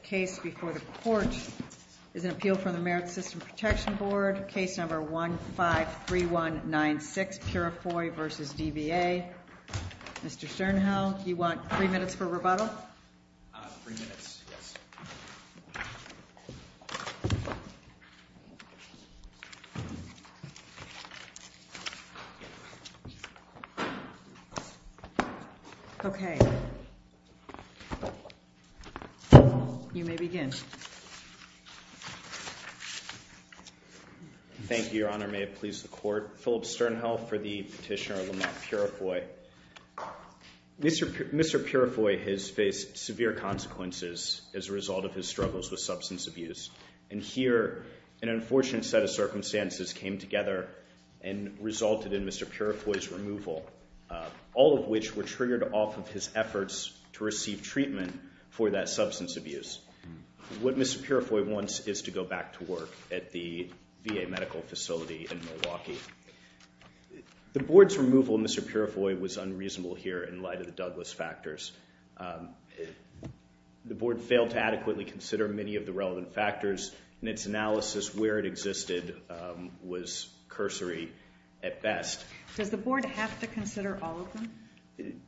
The case before the court is an appeal from the Merit System Protection Board, case number 153196, Purifoy v. DVA. Mr. Sternhill, do you want three minutes for rebuttal? Three minutes, yes. Okay. You may begin. Thank you, Your Honor. May it please the court. Philip Sternhill for the petitioner, Lamont Purifoy. Mr. Purifoy has faced severe consequences as a result of his struggles with substance abuse. And here, an unfortunate set of circumstances came together and resulted in Mr. Purifoy's removal, all of which were triggered off of his efforts to receive treatment for that substance abuse. What Mr. Purifoy wants is to go back to work at the VA medical facility in Milwaukee. The board's removal of Mr. Purifoy was unreasonable here in light of the Douglas factors. The board failed to adequately consider many of the relevant factors, and its analysis where it existed was cursory at best. Does the board have to consider all of them?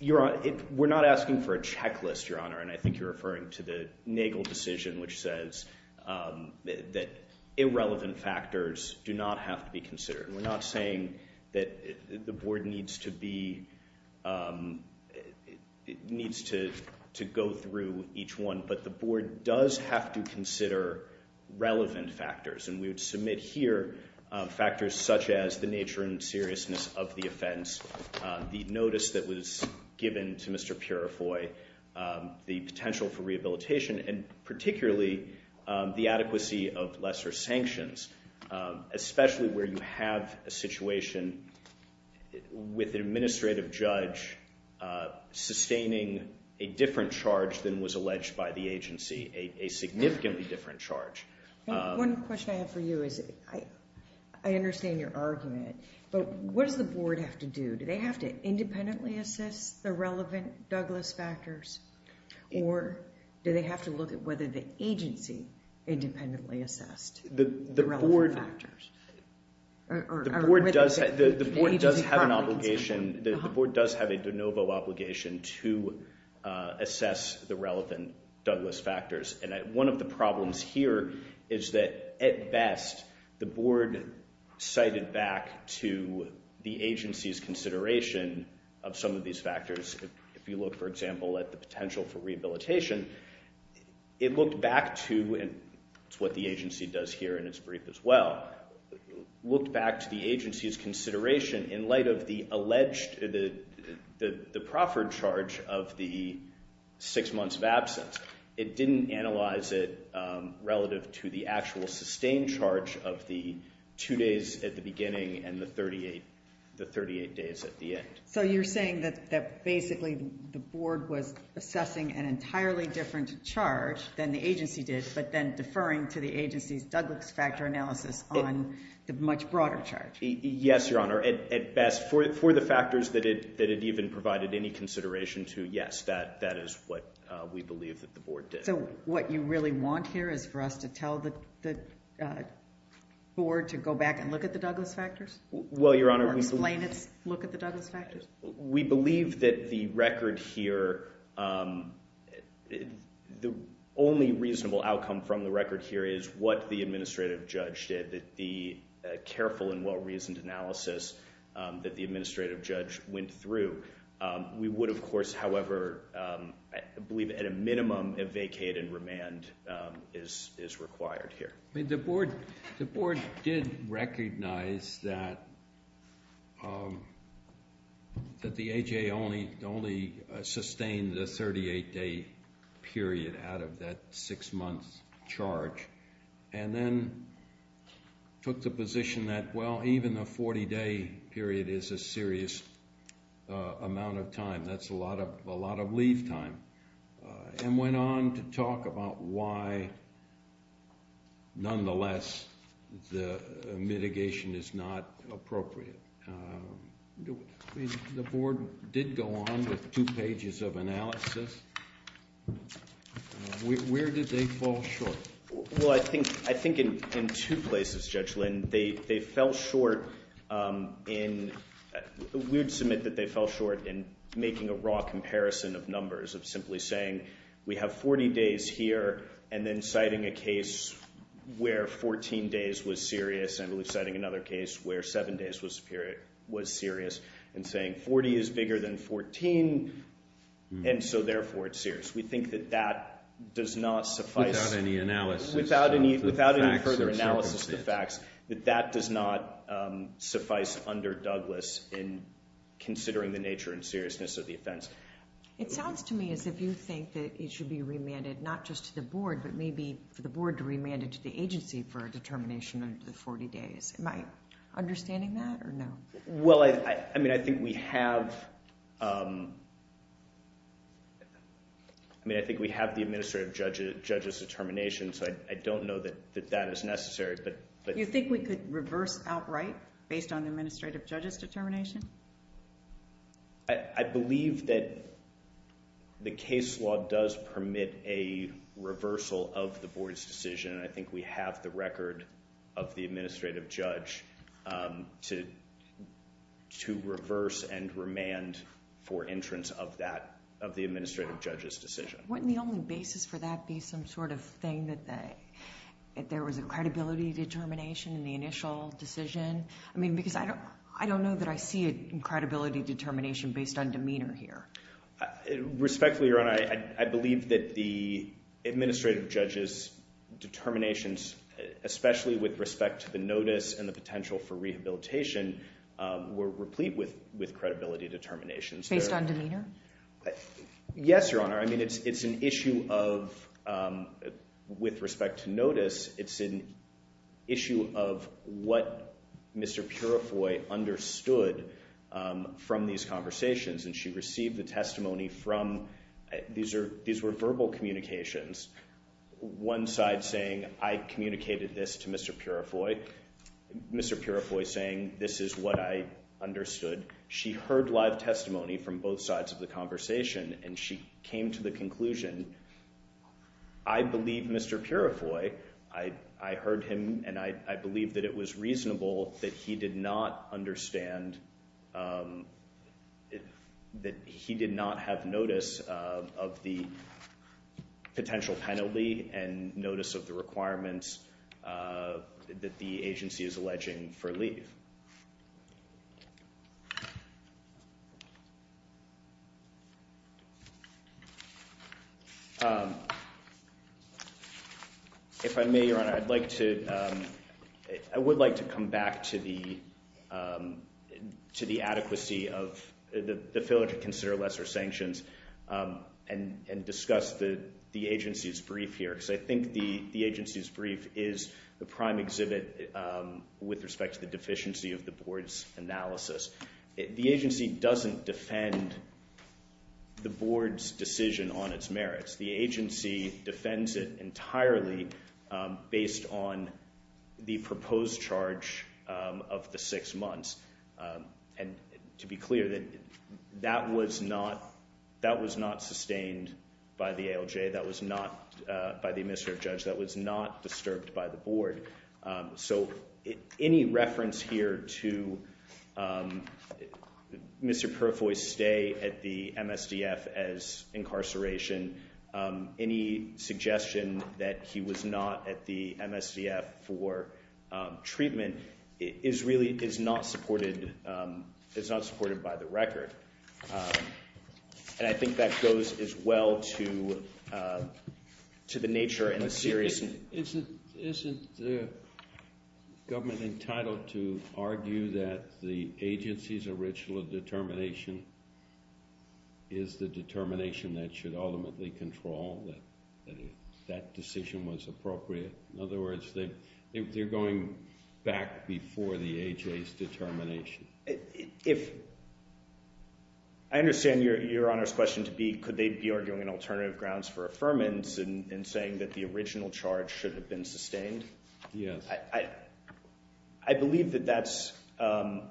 We're not asking for a checklist, Your Honor, and I think you're referring to the Nagel decision, which says that irrelevant factors do not have to be considered. We're not saying that the board needs to go through each one, but the board does have to consider relevant factors. And we would submit here factors such as the nature and seriousness of the offense, the notice that was given to Mr. Purifoy, the potential for rehabilitation, and particularly the adequacy of lesser sanctions, especially where you have a situation with an administrative judge sustaining a different charge than was alleged by the agency, a significantly different charge. One question I have for you is, I understand your argument, but what does the board have to do? Do they have to independently assess the relevant Douglas factors, or do they have to look at whether the agency independently assessed the relevant factors? The board does have an obligation. The board does have a de novo obligation to assess the relevant Douglas factors. And one of the problems here is that, at best, the board cited back to the agency's consideration of some of these factors. If you look, for example, at the potential for rehabilitation, it looked back to, and it's what the agency does here in its brief as well, looked back to the agency's consideration in light of the alleged, the proffered charge of the six months of absence. It didn't analyze it relative to the actual sustained charge of the two days at the beginning and the 38 days at the end. So you're saying that basically the board was assessing an entirely different charge than the agency did, but then deferring to the agency's Douglas factor analysis on the much broader charge? Yes, Your Honor. At best, for the factors that it even provided any consideration to, yes, that is what we believe that the board did. So what you really want here is for us to tell the board to go back and look at the Douglas factors? Well, Your Honor. Or explain its look at the Douglas factors? We believe that the record here, the only reasonable outcome from the record here is what the administrative judge did, the careful and well-reasoned analysis that the administrative judge went through. We would, of course, however, believe at a minimum a vacate and remand is required here. The board did recognize that the AHA only sustained the 38-day period out of that six-month charge, and then took the position that, well, even a 40-day period is a serious amount of time. That's a lot of leave time, and went on to talk about why, nonetheless, the mitigation is not appropriate. The board did go on with two pages of analysis. Where did they fall short? Well, I think in two places, Judge Lynn. They fell short in ‑‑ we would submit that they fell short in making a raw comparison of numbers, of simply saying we have 40 days here, and then citing a case where 14 days was serious, and I believe citing another case where seven days was serious, and saying 40 is bigger than 14, and so therefore it's serious. We think that that does not suffice. Without any analysis. Without any further analysis of the facts, that that does not suffice under Douglas in considering the nature and seriousness of the offense. It sounds to me as if you think that it should be remanded not just to the board, but maybe for the board to remand it to the agency for a determination of the 40 days. Am I understanding that, or no? Well, I mean, I think we have the administrative judge's determination, so I don't know that that is necessary. You think we could reverse outright based on the administrative judge's determination? I believe that the case law does permit a reversal of the board's decision, and I think we have the record of the administrative judge to reverse and remand for entrance of the administrative judge's decision. Wouldn't the only basis for that be some sort of thing that there was a credibility determination in the initial decision? I mean, because I don't know that I see a credibility determination based on demeanor here. Respectfully, Your Honor, I believe that the administrative judge's determinations, especially with respect to the notice and the potential for rehabilitation, were replete with credibility determinations. Based on demeanor? Yes, Your Honor. I mean, it's an issue of, with respect to notice, it's an issue of what Mr. Purifoy understood from these conversations, and she received the testimony from, these were verbal communications, one side saying, I communicated this to Mr. Purifoy, Mr. Purifoy saying, this is what I understood. She heard live testimony from both sides of the conversation, and she came to the conclusion, I believe Mr. Purifoy, I heard him and I believe that it was reasonable that he did not understand, that he did not have notice of the potential penalty and notice of the requirements that the agency is alleging for leave. If I may, Your Honor, I'd like to, I would like to come back to the, to the adequacy of the failure to consider lesser sanctions and discuss the agency's brief here, because I think the agency's brief is the prime exhibit with respect to the deficiency of the board's analysis. The agency doesn't defend the board's decision on its merits. The agency defends it entirely based on the proposed charge of the six months. And to be clear, that was not, that was not sustained by the ALJ, that was not, by the administrative judge, that was not disturbed by the board. So any reference here to Mr. Purifoy's stay at the MSDF as incarceration any suggestion that he was not at the MSDF for treatment is really, is not supported, is not supported by the record. And I think that goes as well to, to the nature and the seriousness. Isn't, isn't the government entitled to argue that the agency's original determination is the determination that should ultimately control that, that decision was appropriate? In other words, they're going back before the AJ's determination. If, I understand Your Honor's question to be, could they be arguing an alternative grounds for affirmance in saying that the original charge should have been sustained? Yes. I believe that that's, I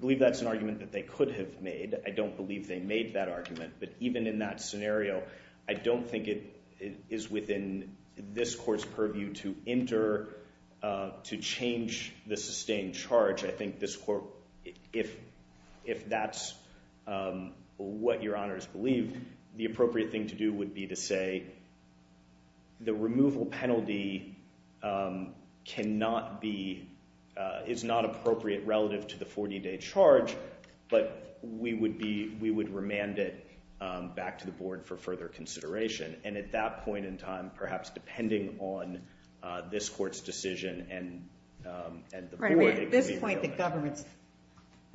believe that's an argument that they could have made. I don't believe they made that argument. But even in that scenario, I don't think it is within this court's purview to enter, to change the sustained charge. I think this court, if, if that's what Your Honor's believed, the appropriate thing to do would be to say the removal penalty cannot be, is not appropriate relative to the 40-day charge, but we would be, we would remand it back to the board for further consideration. And at that point in time, perhaps depending on this court's decision and, and the board. At this point, the government's,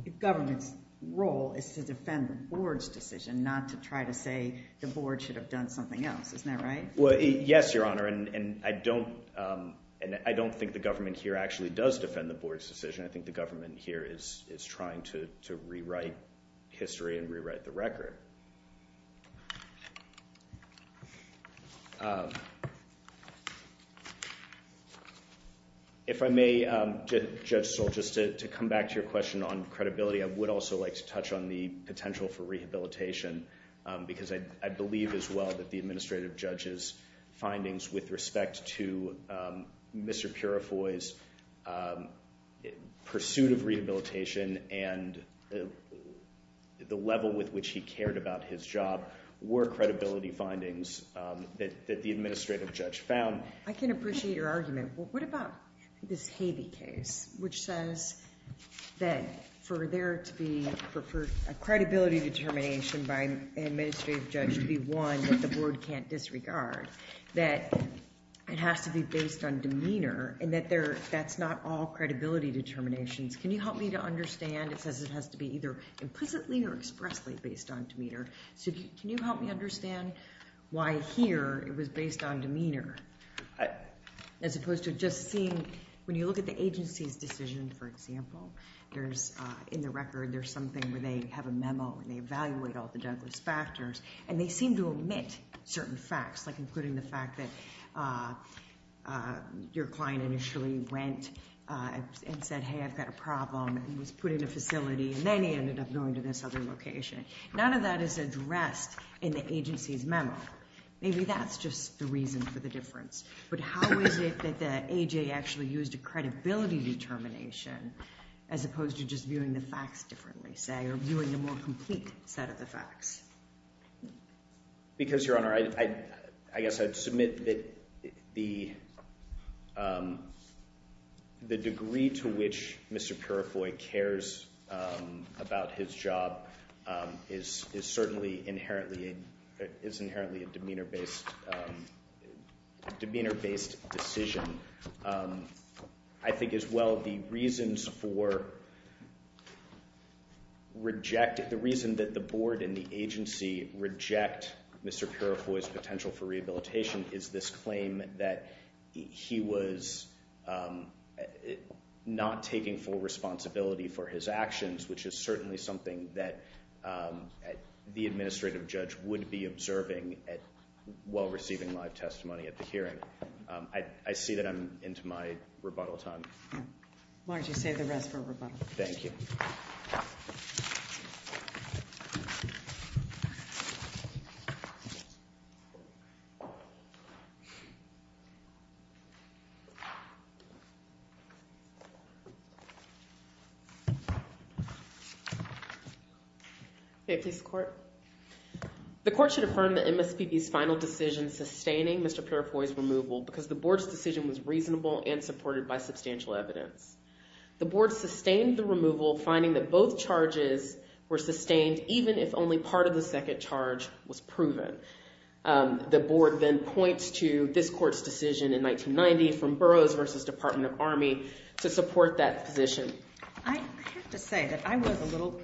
the government's role is to defend the board's decision, not to try to say the board should have done something else. Isn't that right? Well, yes, Your Honor. And, and I don't, and I don't think the government here actually does defend the board's decision. I think the government here is, is trying to, to rewrite history and rewrite the record. If I may, Judge Stoll, just to come back to your question on credibility, I would also like to touch on the potential for rehabilitation, because I believe as well that the administrative judge's findings with respect to Mr. Purifoy's pursuit of rehabilitation and the level with which he cared about his job were credibility findings that the administrative judge found. I can appreciate your argument. What about this Havey case, which says that for there to be, for a credibility determination by an administrative judge to be one that the board can't disregard, that it has to be based on demeanor and that there, that's not all credibility determinations. Can you help me to understand? It says it has to be either implicitly or expressly based on demeanor. As opposed to just seeing, when you look at the agency's decision, for example, there's, in the record, there's something where they have a memo and they evaluate all the Douglas factors, and they seem to omit certain facts, like including the fact that your client initially went and said, hey, I've got a problem, and was put in a facility, and then he ended up going to this other location. None of that is addressed in the agency's memo. Maybe that's just the reason for the difference. But how is it that the AJ actually used a credibility determination, as opposed to just viewing the facts differently, say, or viewing a more complete set of the facts? Because, Your Honor, I guess I'd submit that the degree to which Mr. Purifoy cares about his job is certainly inherently a demeanor-based decision. I think, as well, the reasons for rejecting, the reason that the board and the agency reject Mr. Purifoy's potential for rehabilitation is this claim that he was not taking full responsibility for his actions, which is certainly something that the administrative judge would be observing while receiving live testimony at the hearing. I see that I'm into my rebuttal time. Why don't you save the rest for rebuttal? Thank you. May it please the Court? The Court should affirm that MSPB's final decision sustaining Mr. Purifoy's removal because the board's decision was reasonable and supported by substantial evidence. The board sustained the removal, finding that both charges were sustained, even if only part of the second charge was proven. The board then points to this Court's decision in 1990 from Burroughs v. Department of Army to support that position. I have to say that I was a little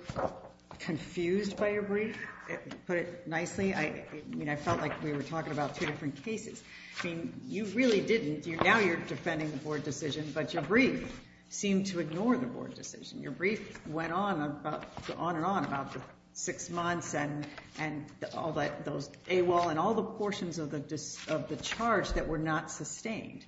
confused by your brief, to put it nicely. I mean, I felt like we were talking about two different cases. I mean, you really didn't. Now you're defending the board decision, but your brief seemed to ignore the board decision. Your brief went on and on about the six months and all those AWOL and all the portions of the charge that were not sustained.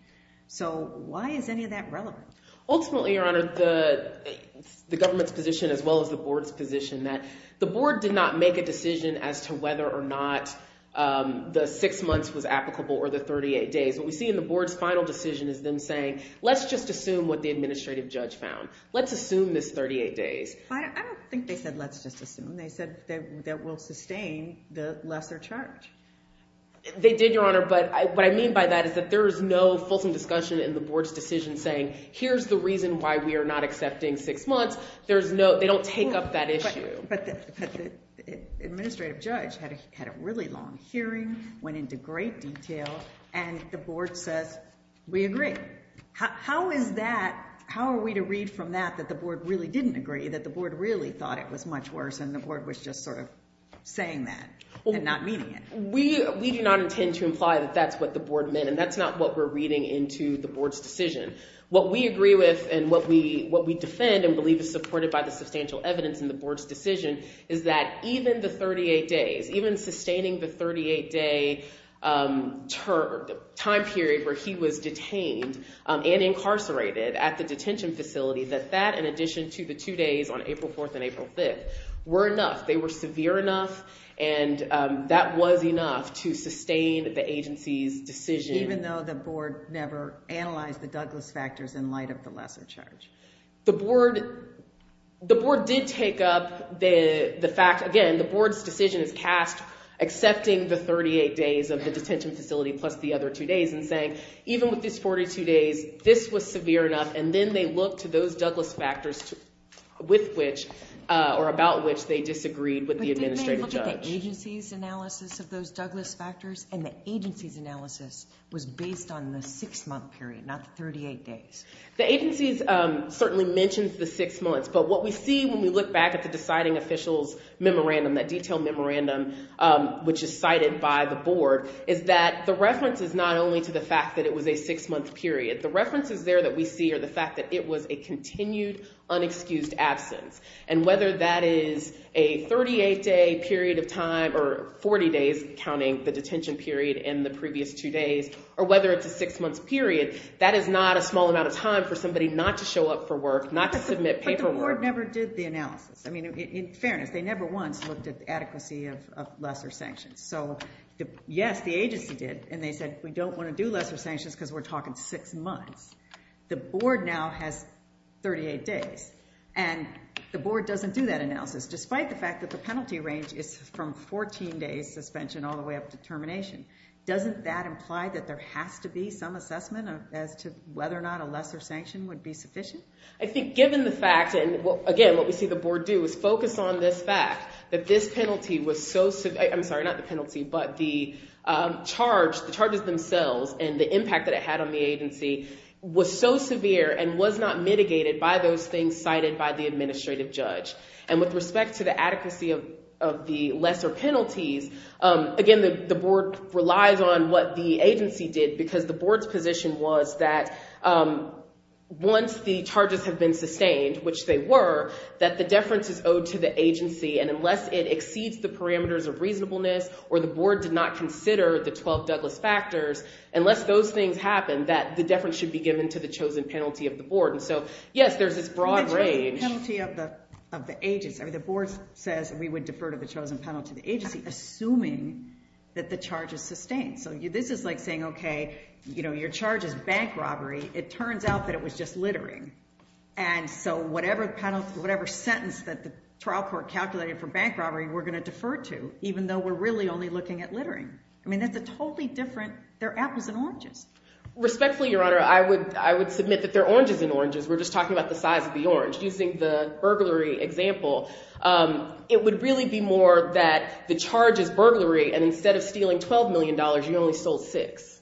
So why is any of that relevant? Ultimately, Your Honor, the government's position as well as the board's position that the board did not make a decision as to whether or not the six months was applicable or the 38 days. What we see in the board's final decision is them saying, let's just assume what the administrative judge found. Let's assume this 38 days. I don't think they said let's just assume. They said that we'll sustain the lesser charge. They did, Your Honor, but what I mean by that is that there is no fulsome discussion in the board's decision saying here's the reason why we are not accepting six months. They don't take up that issue. But the administrative judge had a really long hearing, went into great detail, and the board says we agree. How are we to read from that that the board really didn't agree, that the board really thought it was much worse, and the board was just sort of saying that and not meaning it? We do not intend to imply that that's what the board meant, and that's not what we're reading into the board's decision. What we agree with and what we defend and believe is supported by the substantial evidence in the board's decision is that even the 38 days, even sustaining the 38-day time period where he was detained and incarcerated at the detention facility, that that in addition to the two days on April 4th and April 5th were enough. They were severe enough, and that was enough to sustain the agency's decision. Even though the board never analyzed the Douglas factors in light of the lesser charge. The board did take up the fact, again, the board's decision is cast accepting the 38 days of the detention facility plus the other two days and saying even with these 42 days, this was severe enough, and then they look to those Douglas factors with which or about which they disagreed with the administrative judge. But didn't they look at the agency's analysis of those Douglas factors and the agency's analysis was based on the six-month period, not the 38 days? The agency certainly mentions the six months, but what we see when we look back at the deciding official's memorandum, that detailed memorandum which is cited by the board, is that the reference is not only to the fact that it was a six-month period. The references there that we see are the fact that it was a continued, unexcused absence, and whether that is a 38-day period of time or 40 days counting the detention period in the previous two days, or whether it's a six-month period, that is not a small amount of time for somebody not to show up for work, not to submit paperwork. But the board never did the analysis. I mean, in fairness, they never once looked at the adequacy of lesser sanctions. So yes, the agency did, and they said we don't want to do lesser sanctions because we're talking six months. Despite the fact that the penalty range is from 14 days suspension all the way up to termination, doesn't that imply that there has to be some assessment as to whether or not a lesser sanction would be sufficient? I think given the fact, and again, what we see the board do is focus on this fact that this penalty was so severe. I'm sorry, not the penalty, but the charges themselves and the impact that it had on the agency was so severe and was not mitigated by those things cited by the administrative judge. And with respect to the adequacy of the lesser penalties, again, the board relies on what the agency did because the board's position was that once the charges have been sustained, which they were, that the deference is owed to the agency, and unless it exceeds the parameters of reasonableness or the board did not consider the 12 Douglas factors, unless those things happened, that the deference should be given to the chosen penalty of the board. So, yes, there's this broad range. The penalty of the agency. The board says we would defer to the chosen penalty of the agency assuming that the charge is sustained. So this is like saying, okay, your charge is bank robbery. It turns out that it was just littering. And so whatever sentence that the trial court calculated for bank robbery we're going to defer to, even though we're really only looking at littering. I mean, that's a totally different, they're apples and oranges. Respectfully, Your Honor, I would submit that they're oranges and oranges. We're just talking about the size of the orange. Using the burglary example, it would really be more that the charge is burglary and instead of stealing $12 million, you only sold six.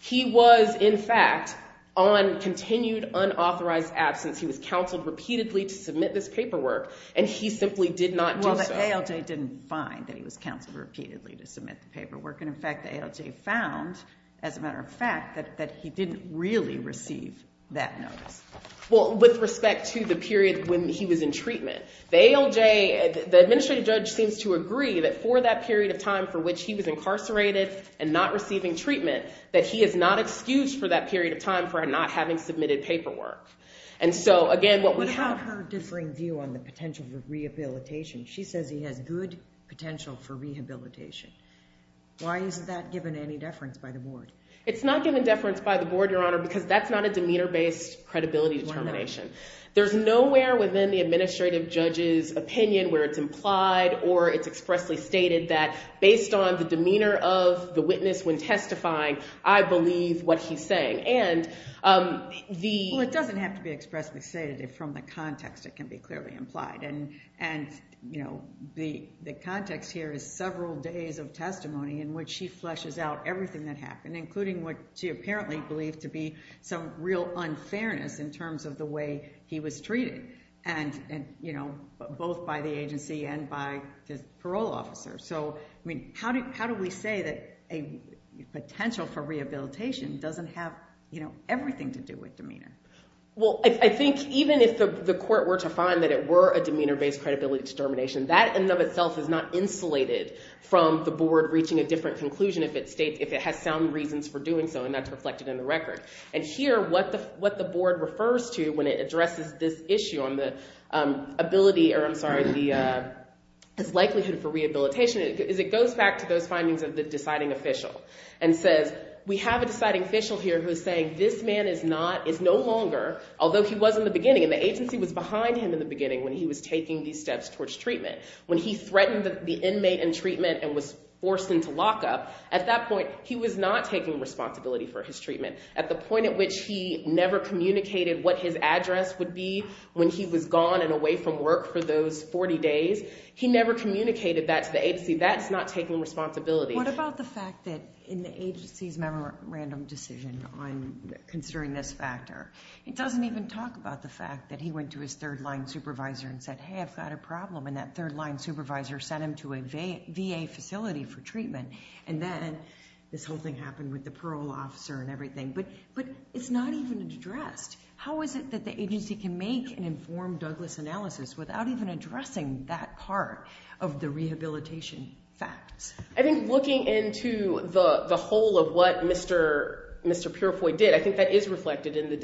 He was, in fact, on continued unauthorized absence. He was counseled repeatedly to submit this paperwork, and he simply did not do so. Well, the ALJ didn't find that he was counseled repeatedly to submit the paperwork, and, in fact, the ALJ found, as a matter of fact, that he didn't really receive that notice. Well, with respect to the period when he was in treatment, the ALJ, the administrative judge seems to agree that for that period of time for which he was incarcerated and not receiving treatment, that he is not excused for that period of time for not having submitted paperwork. And so, again, what we have... What about her differing view on the potential for rehabilitation? She says he has good potential for rehabilitation. Why isn't that given any deference by the board? It's not given deference by the board, Your Honor, because that's not a demeanor-based credibility determination. There's nowhere within the administrative judge's opinion where it's implied or it's expressly stated that based on the demeanor of the witness when testifying, I believe what he's saying. And the... Well, it doesn't have to be expressly stated. From the context, it can be clearly implied. And, you know, the context here is several days of testimony in which she fleshes out everything that happened, including what she apparently believed to be some real unfairness in terms of the way he was treated, and, you know, both by the agency and by the parole officer. So, I mean, how do we say that a potential for rehabilitation doesn't have, you know, everything to do with demeanor? Well, I think even if the court were to find that it were a demeanor-based credibility determination, that in and of itself is not insulated from the board reaching a different conclusion if it has sound reasons for doing so, and that's reflected in the record. And here, what the board refers to when it addresses this issue on the ability or, I'm sorry, the likelihood for rehabilitation is it goes back to those findings of the deciding official and says, we have a deciding official here who is saying that this man is not, is no longer, although he was in the beginning, and the agency was behind him in the beginning when he was taking these steps towards treatment. When he threatened the inmate in treatment and was forced into lockup, at that point he was not taking responsibility for his treatment. At the point at which he never communicated what his address would be when he was gone and away from work for those 40 days, he never communicated that to the agency. That's not taking responsibility. What about the fact that in the agency's memorandum decision on considering this factor, it doesn't even talk about the fact that he went to his third-line supervisor and said, hey, I've got a problem, and that third-line supervisor sent him to a VA facility for treatment, and then this whole thing happened with the parole officer and everything. But it's not even addressed. How is it that the agency can make an informed Douglas analysis without even addressing that part of the rehabilitation facts? I think looking into the whole of what Mr. Purifoy did, I think that is reflected in the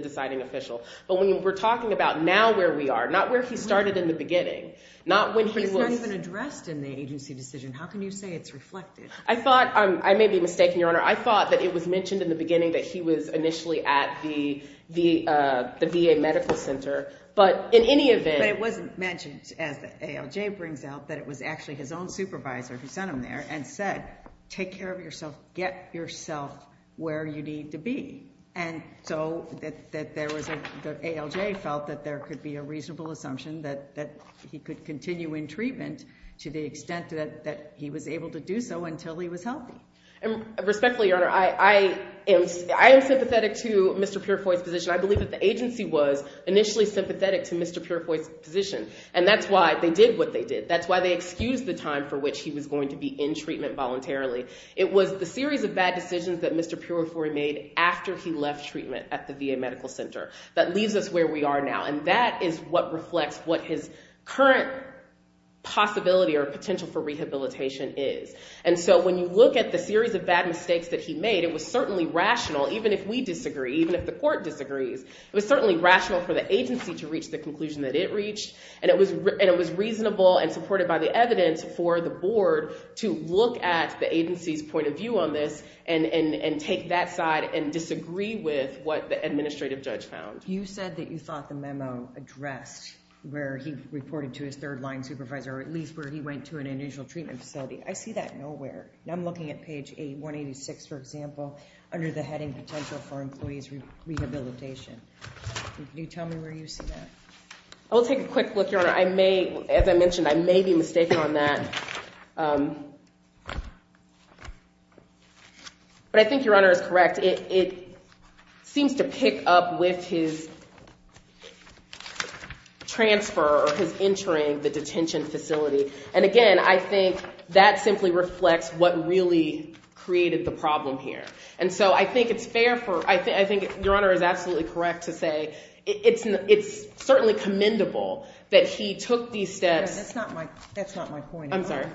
deciding official. But when we're talking about now where we are, not where he started in the beginning, not when he was... He's not even addressed in the agency decision. How can you say it's reflected? I may be mistaken, Your Honor. I thought that it was mentioned in the beginning that he was initially at the VA medical center, but in any event... But it wasn't mentioned, as the ALJ brings out, that it was actually his own supervisor who sent him there and said, take care of yourself, get yourself where you need to be. And so the ALJ felt that there could be a reasonable assumption that he could continue in treatment to the extent that he was able to do so until he was healthy. Respectfully, Your Honor, I am sympathetic to Mr. Purifoy's position. I believe that the agency was initially sympathetic to Mr. Purifoy's position, and that's why they did what they did. That's why they excused the time for which he was going to be in treatment voluntarily. It was the series of bad decisions that Mr. Purifoy made after he left treatment at the VA medical center that leaves us where we are now, and that is what reflects what his current possibility or potential for rehabilitation is. And so when you look at the series of bad mistakes that he made, it was certainly rational, even if we disagree, even if the court disagrees, it was certainly rational for the agency to reach the conclusion that it reached, and it was reasonable and supported by the evidence for the board to look at the agency's point of view on this and take that side and disagree with what the administrative judge found. You said that you thought the memo addressed where he reported to his third-line supervisor, or at least where he went to an initial treatment facility. I see that nowhere. I'm looking at page 186, for example, under the heading potential for employee's rehabilitation. Can you tell me where you see that? I will take a quick look, Your Honor. As I mentioned, I may be mistaken on that. But I think Your Honor is correct. It seems to pick up with his transfer or his entering the detention facility. And again, I think that simply reflects what really created the problem here. And so I think it's fair for— I think Your Honor is absolutely correct to say that it's certainly commendable that he took these steps— No, that's not my point. I'm sorry.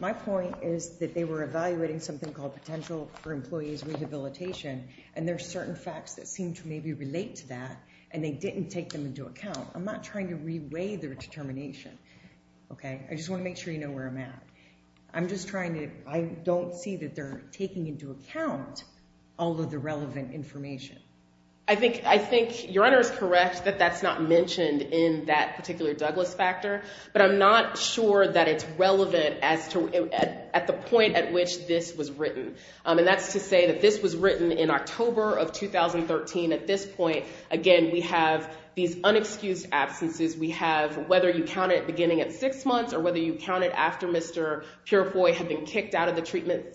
My point is that they were evaluating something called potential for employee's rehabilitation, and there are certain facts that seem to maybe relate to that, and they didn't take them into account. I'm not trying to reweigh their determination. Okay? I just want to make sure you know where I'm at. I'm just trying to— I don't see that they're taking into account all of the relevant information. I think Your Honor is correct that that's not mentioned in that particular Douglas factor, but I'm not sure that it's relevant at the point at which this was written. And that's to say that this was written in October of 2013. At this point, again, we have these unexcused absences. We have—whether you count it beginning at six months or whether you count it after Mr. Purifoy had been kicked out of the treatment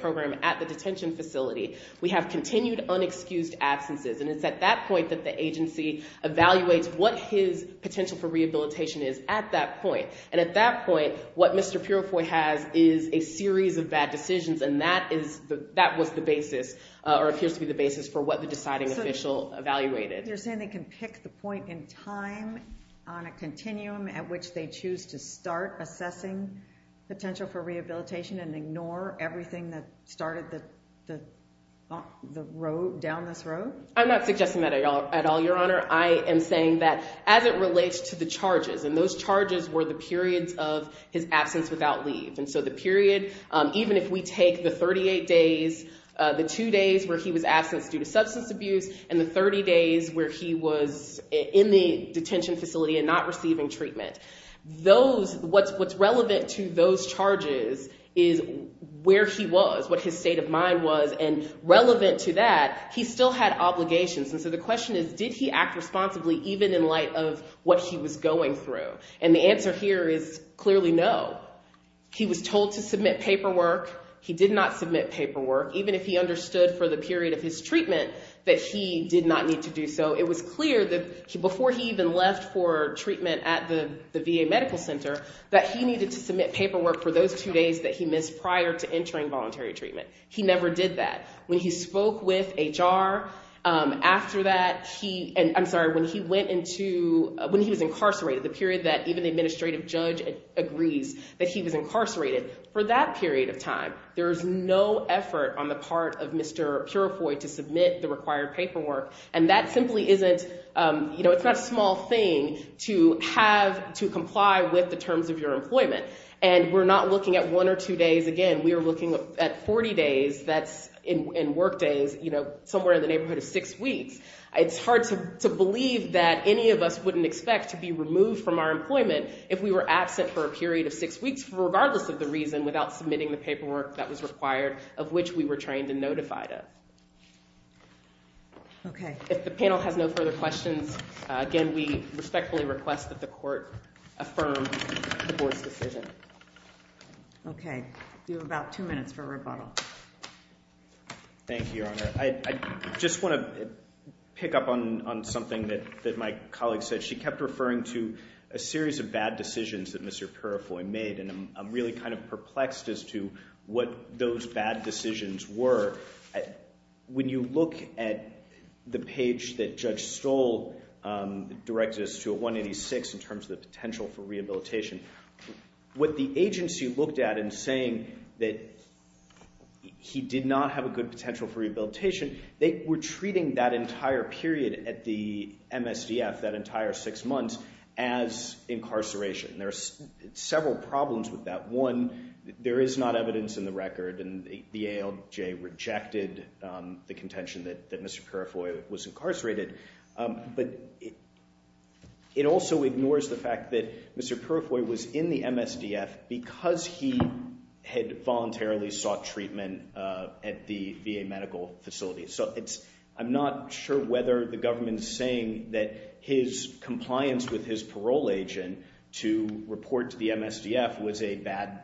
program at the detention facility. We have continued unexcused absences, and it's at that point that the agency evaluates what his potential for rehabilitation is at that point. And at that point, what Mr. Purifoy has is a series of bad decisions, and that was the basis or appears to be the basis for what the deciding official evaluated. So you're saying they can pick the point in time on a continuum at which they choose to start assessing potential for rehabilitation and ignore everything that started down this road? I'm not suggesting that at all, Your Honor. I am saying that as it relates to the charges, and those charges were the periods of his absence without leave. And so the period, even if we take the 38 days, the two days where he was absent due to substance abuse and the 30 days where he was in the detention facility and not receiving treatment, what's relevant to those charges is where he was, what his state of mind was, and relevant to that, he still had obligations. And so the question is, did he act responsibly even in light of what he was going through? And the answer here is clearly no. He was told to submit paperwork. He did not submit paperwork, even if he understood for the period of his treatment that he did not need to do so. It was clear that before he even left for treatment at the VA Medical Center that he needed to submit paperwork for those two days that he missed prior to entering voluntary treatment. He never did that. When he spoke with HR after that, and I'm sorry, when he was incarcerated, the period that even the administrative judge agrees that he was incarcerated, for that period of time, there was no effort on the part of Mr. Purifoy to submit the required paperwork, and that simply isn't... You know, it's not a small thing to have to comply with the terms of your employment, and we're not looking at one or two days. Again, we are looking at 40 days, that's in work days, you know, somewhere in the neighborhood of six weeks. It's hard to believe that any of us wouldn't expect to be removed from our employment if we were absent for a period of six weeks, regardless of the reason, without submitting the paperwork that was required, of which we were trained and notified of. Okay. If the panel has no further questions, again, we respectfully request that the court affirm the board's decision. You have about two minutes for rebuttal. Thank you, Your Honor. I just want to pick up on something that my colleague said. She kept referring to a series of bad decisions that Mr. Purifoy made, and I'm really kind of perplexed as to what those bad decisions were. When you look at the page that Judge Stoll directed us to, at 186, in terms of the potential for rehabilitation, what the agency looked at in saying that he did not have a good potential for rehabilitation, they were treating that entire period at the MSDF, that entire six months, as incarceration. There are several problems with that. One, there is not evidence in the record, and the ALJ rejected the contention that Mr. Purifoy was incarcerated. But it also ignores the fact that Mr. Purifoy was in the MSDF because he had voluntarily sought treatment at the VA medical facility. So I'm not sure whether the government's saying that his compliance with his parole agent to report to the MSDF was a bad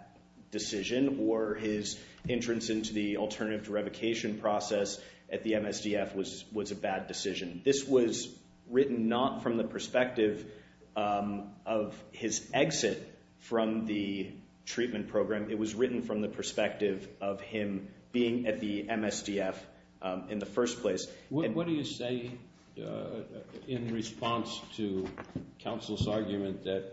decision or his entrance into the alternative to revocation process at the MSDF was a bad decision. This was written not from the perspective of his exit from the treatment program. It was written from the perspective of him being at the MSDF in the first place. What do you say in response to counsel's argument that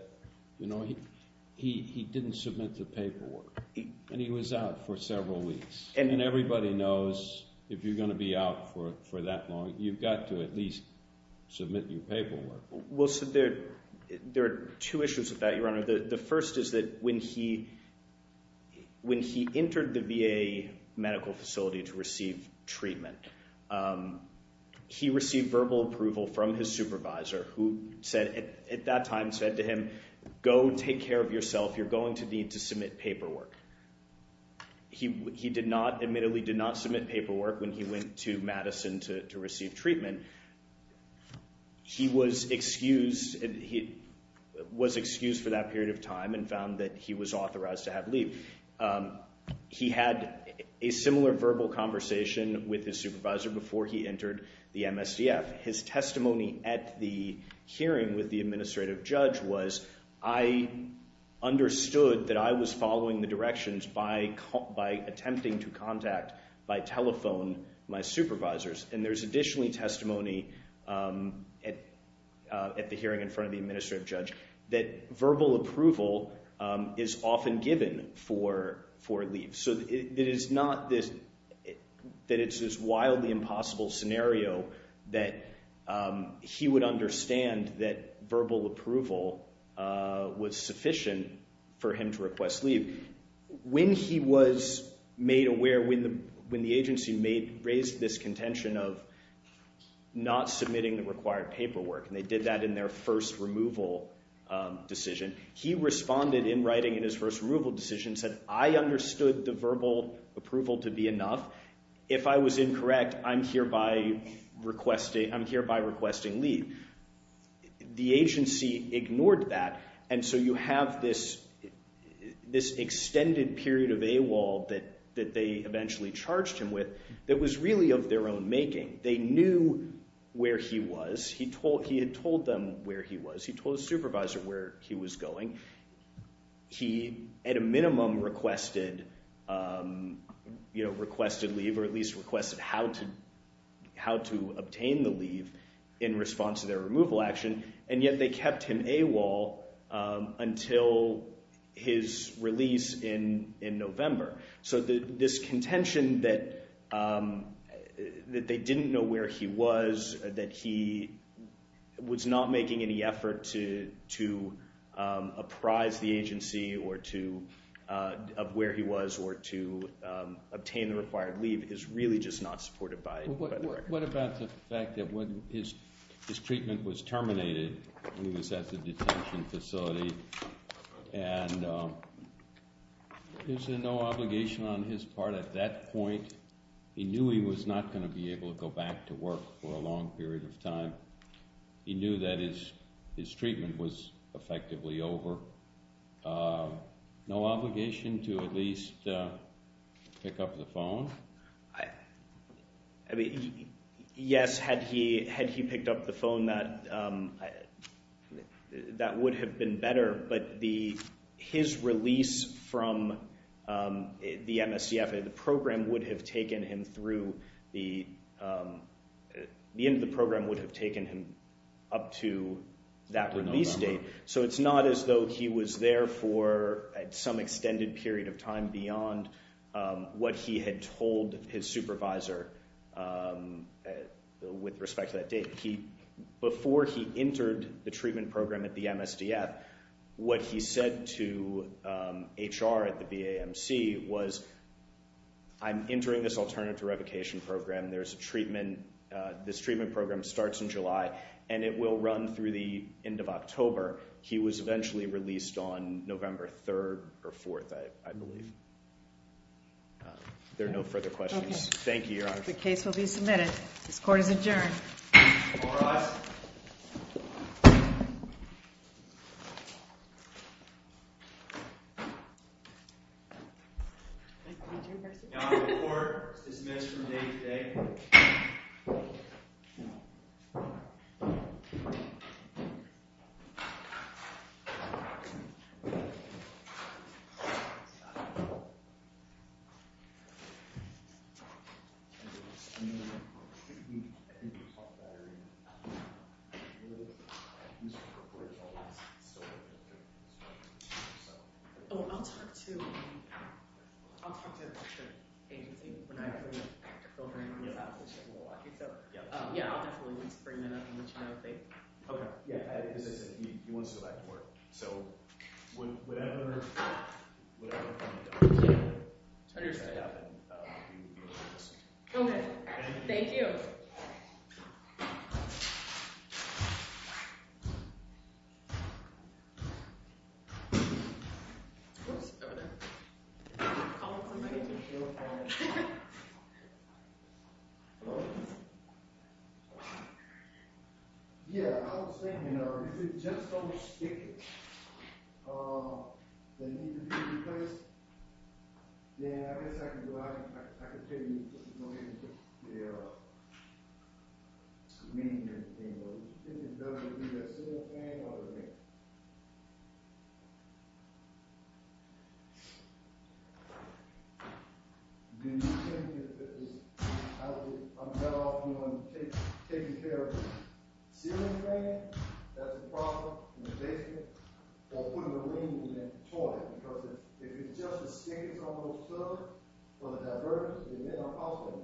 he didn't submit the paperwork and he was out for several weeks? And everybody knows if you're going to be out for that long, you've got to at least submit your paperwork. Well, there are two issues with that, Your Honor. The first is that when he entered the VA medical facility to receive treatment, he received verbal approval from his supervisor, who at that time said to him, go take care of yourself. You're going to need to submit paperwork. He admittedly did not submit paperwork when he went to Madison to receive treatment. He was excused for that period of time and found that he was authorized to have leave. He had a similar verbal conversation with his supervisor before he entered the MSDF. His testimony at the hearing with the administrative judge was, I understood that I was following the directions by attempting to contact, by telephone, my supervisors. And there's additionally testimony at the hearing in front of the administrative judge that verbal approval is often given for leave. So it is not that it's this wildly impossible scenario that he would understand that verbal approval was sufficient for him to request leave. When he was made aware, when the agency raised this contention of not submitting the required paperwork, and they did that in their first removal decision, he responded in writing in his first removal decision, said, I understood the verbal approval to be enough. If I was incorrect, I'm hereby requesting leave. The agency ignored that, and so you have this extended period of AWOL that they eventually charged him with that was really of their own making. They knew where he was. He had told them where he was. He told his supervisor where he was going. He at a minimum requested leave, or at least requested how to obtain the leave in response to their removal action, and yet they kept him AWOL until his release in November. So this contention that they didn't know where he was, that he was not making any effort to apprise the agency of where he was or to obtain the required leave is really just not supported by the record. What about the fact that his treatment was terminated when he was at the detention facility, and is there no obligation on his part at that point? He knew he was not going to be able to go back to work for a long period of time. He knew that his treatment was effectively over. No obligation to at least pick up the phone? I mean, yes, had he picked up the phone, that would have been better, but his release from the MSCF, the end of the program would have taken him up to that release date, so it's not as though he was there for some extended period of time beyond what he had told his supervisor with respect to that date. Before he entered the treatment program at the MSCF, what he said to HR at the BAMC was, I'm entering this alternative revocation program. This treatment program starts in July, and it will run through the end of October. He was eventually released on November 3rd or 4th, I believe. There are no further questions. Thank you, Your Honor. The case will be submitted. This court is adjourned. All rise. Your Honor, the court is dismissed from date today. I'll talk to the agency. We're not going to filter anything. Yeah, I'll definitely need to bring that up in the trial date. Okay. Yeah, as I said, he wants to go back to court, so whatever kind of damage that happened, Thank you. Thank you. Thank you. Thank you. Thank you. Thank you. Thank you. Thank you. Thank you. Thank you. Thank you. Thank you. Yeah, I was saying, is it just almost sticky? Yeah, I guess I can go ahead. I could figure it out. Yeah. It's the meaning of the game, but it's either a ceiling fan or a vent. I'm better off, you know, taking care of the ceiling fan. That's a problem in a basement. Or putting the rooms in the toilet. Because if it's just the stickiness on those, or the divergence, then it's not a problem. Thanks for watching!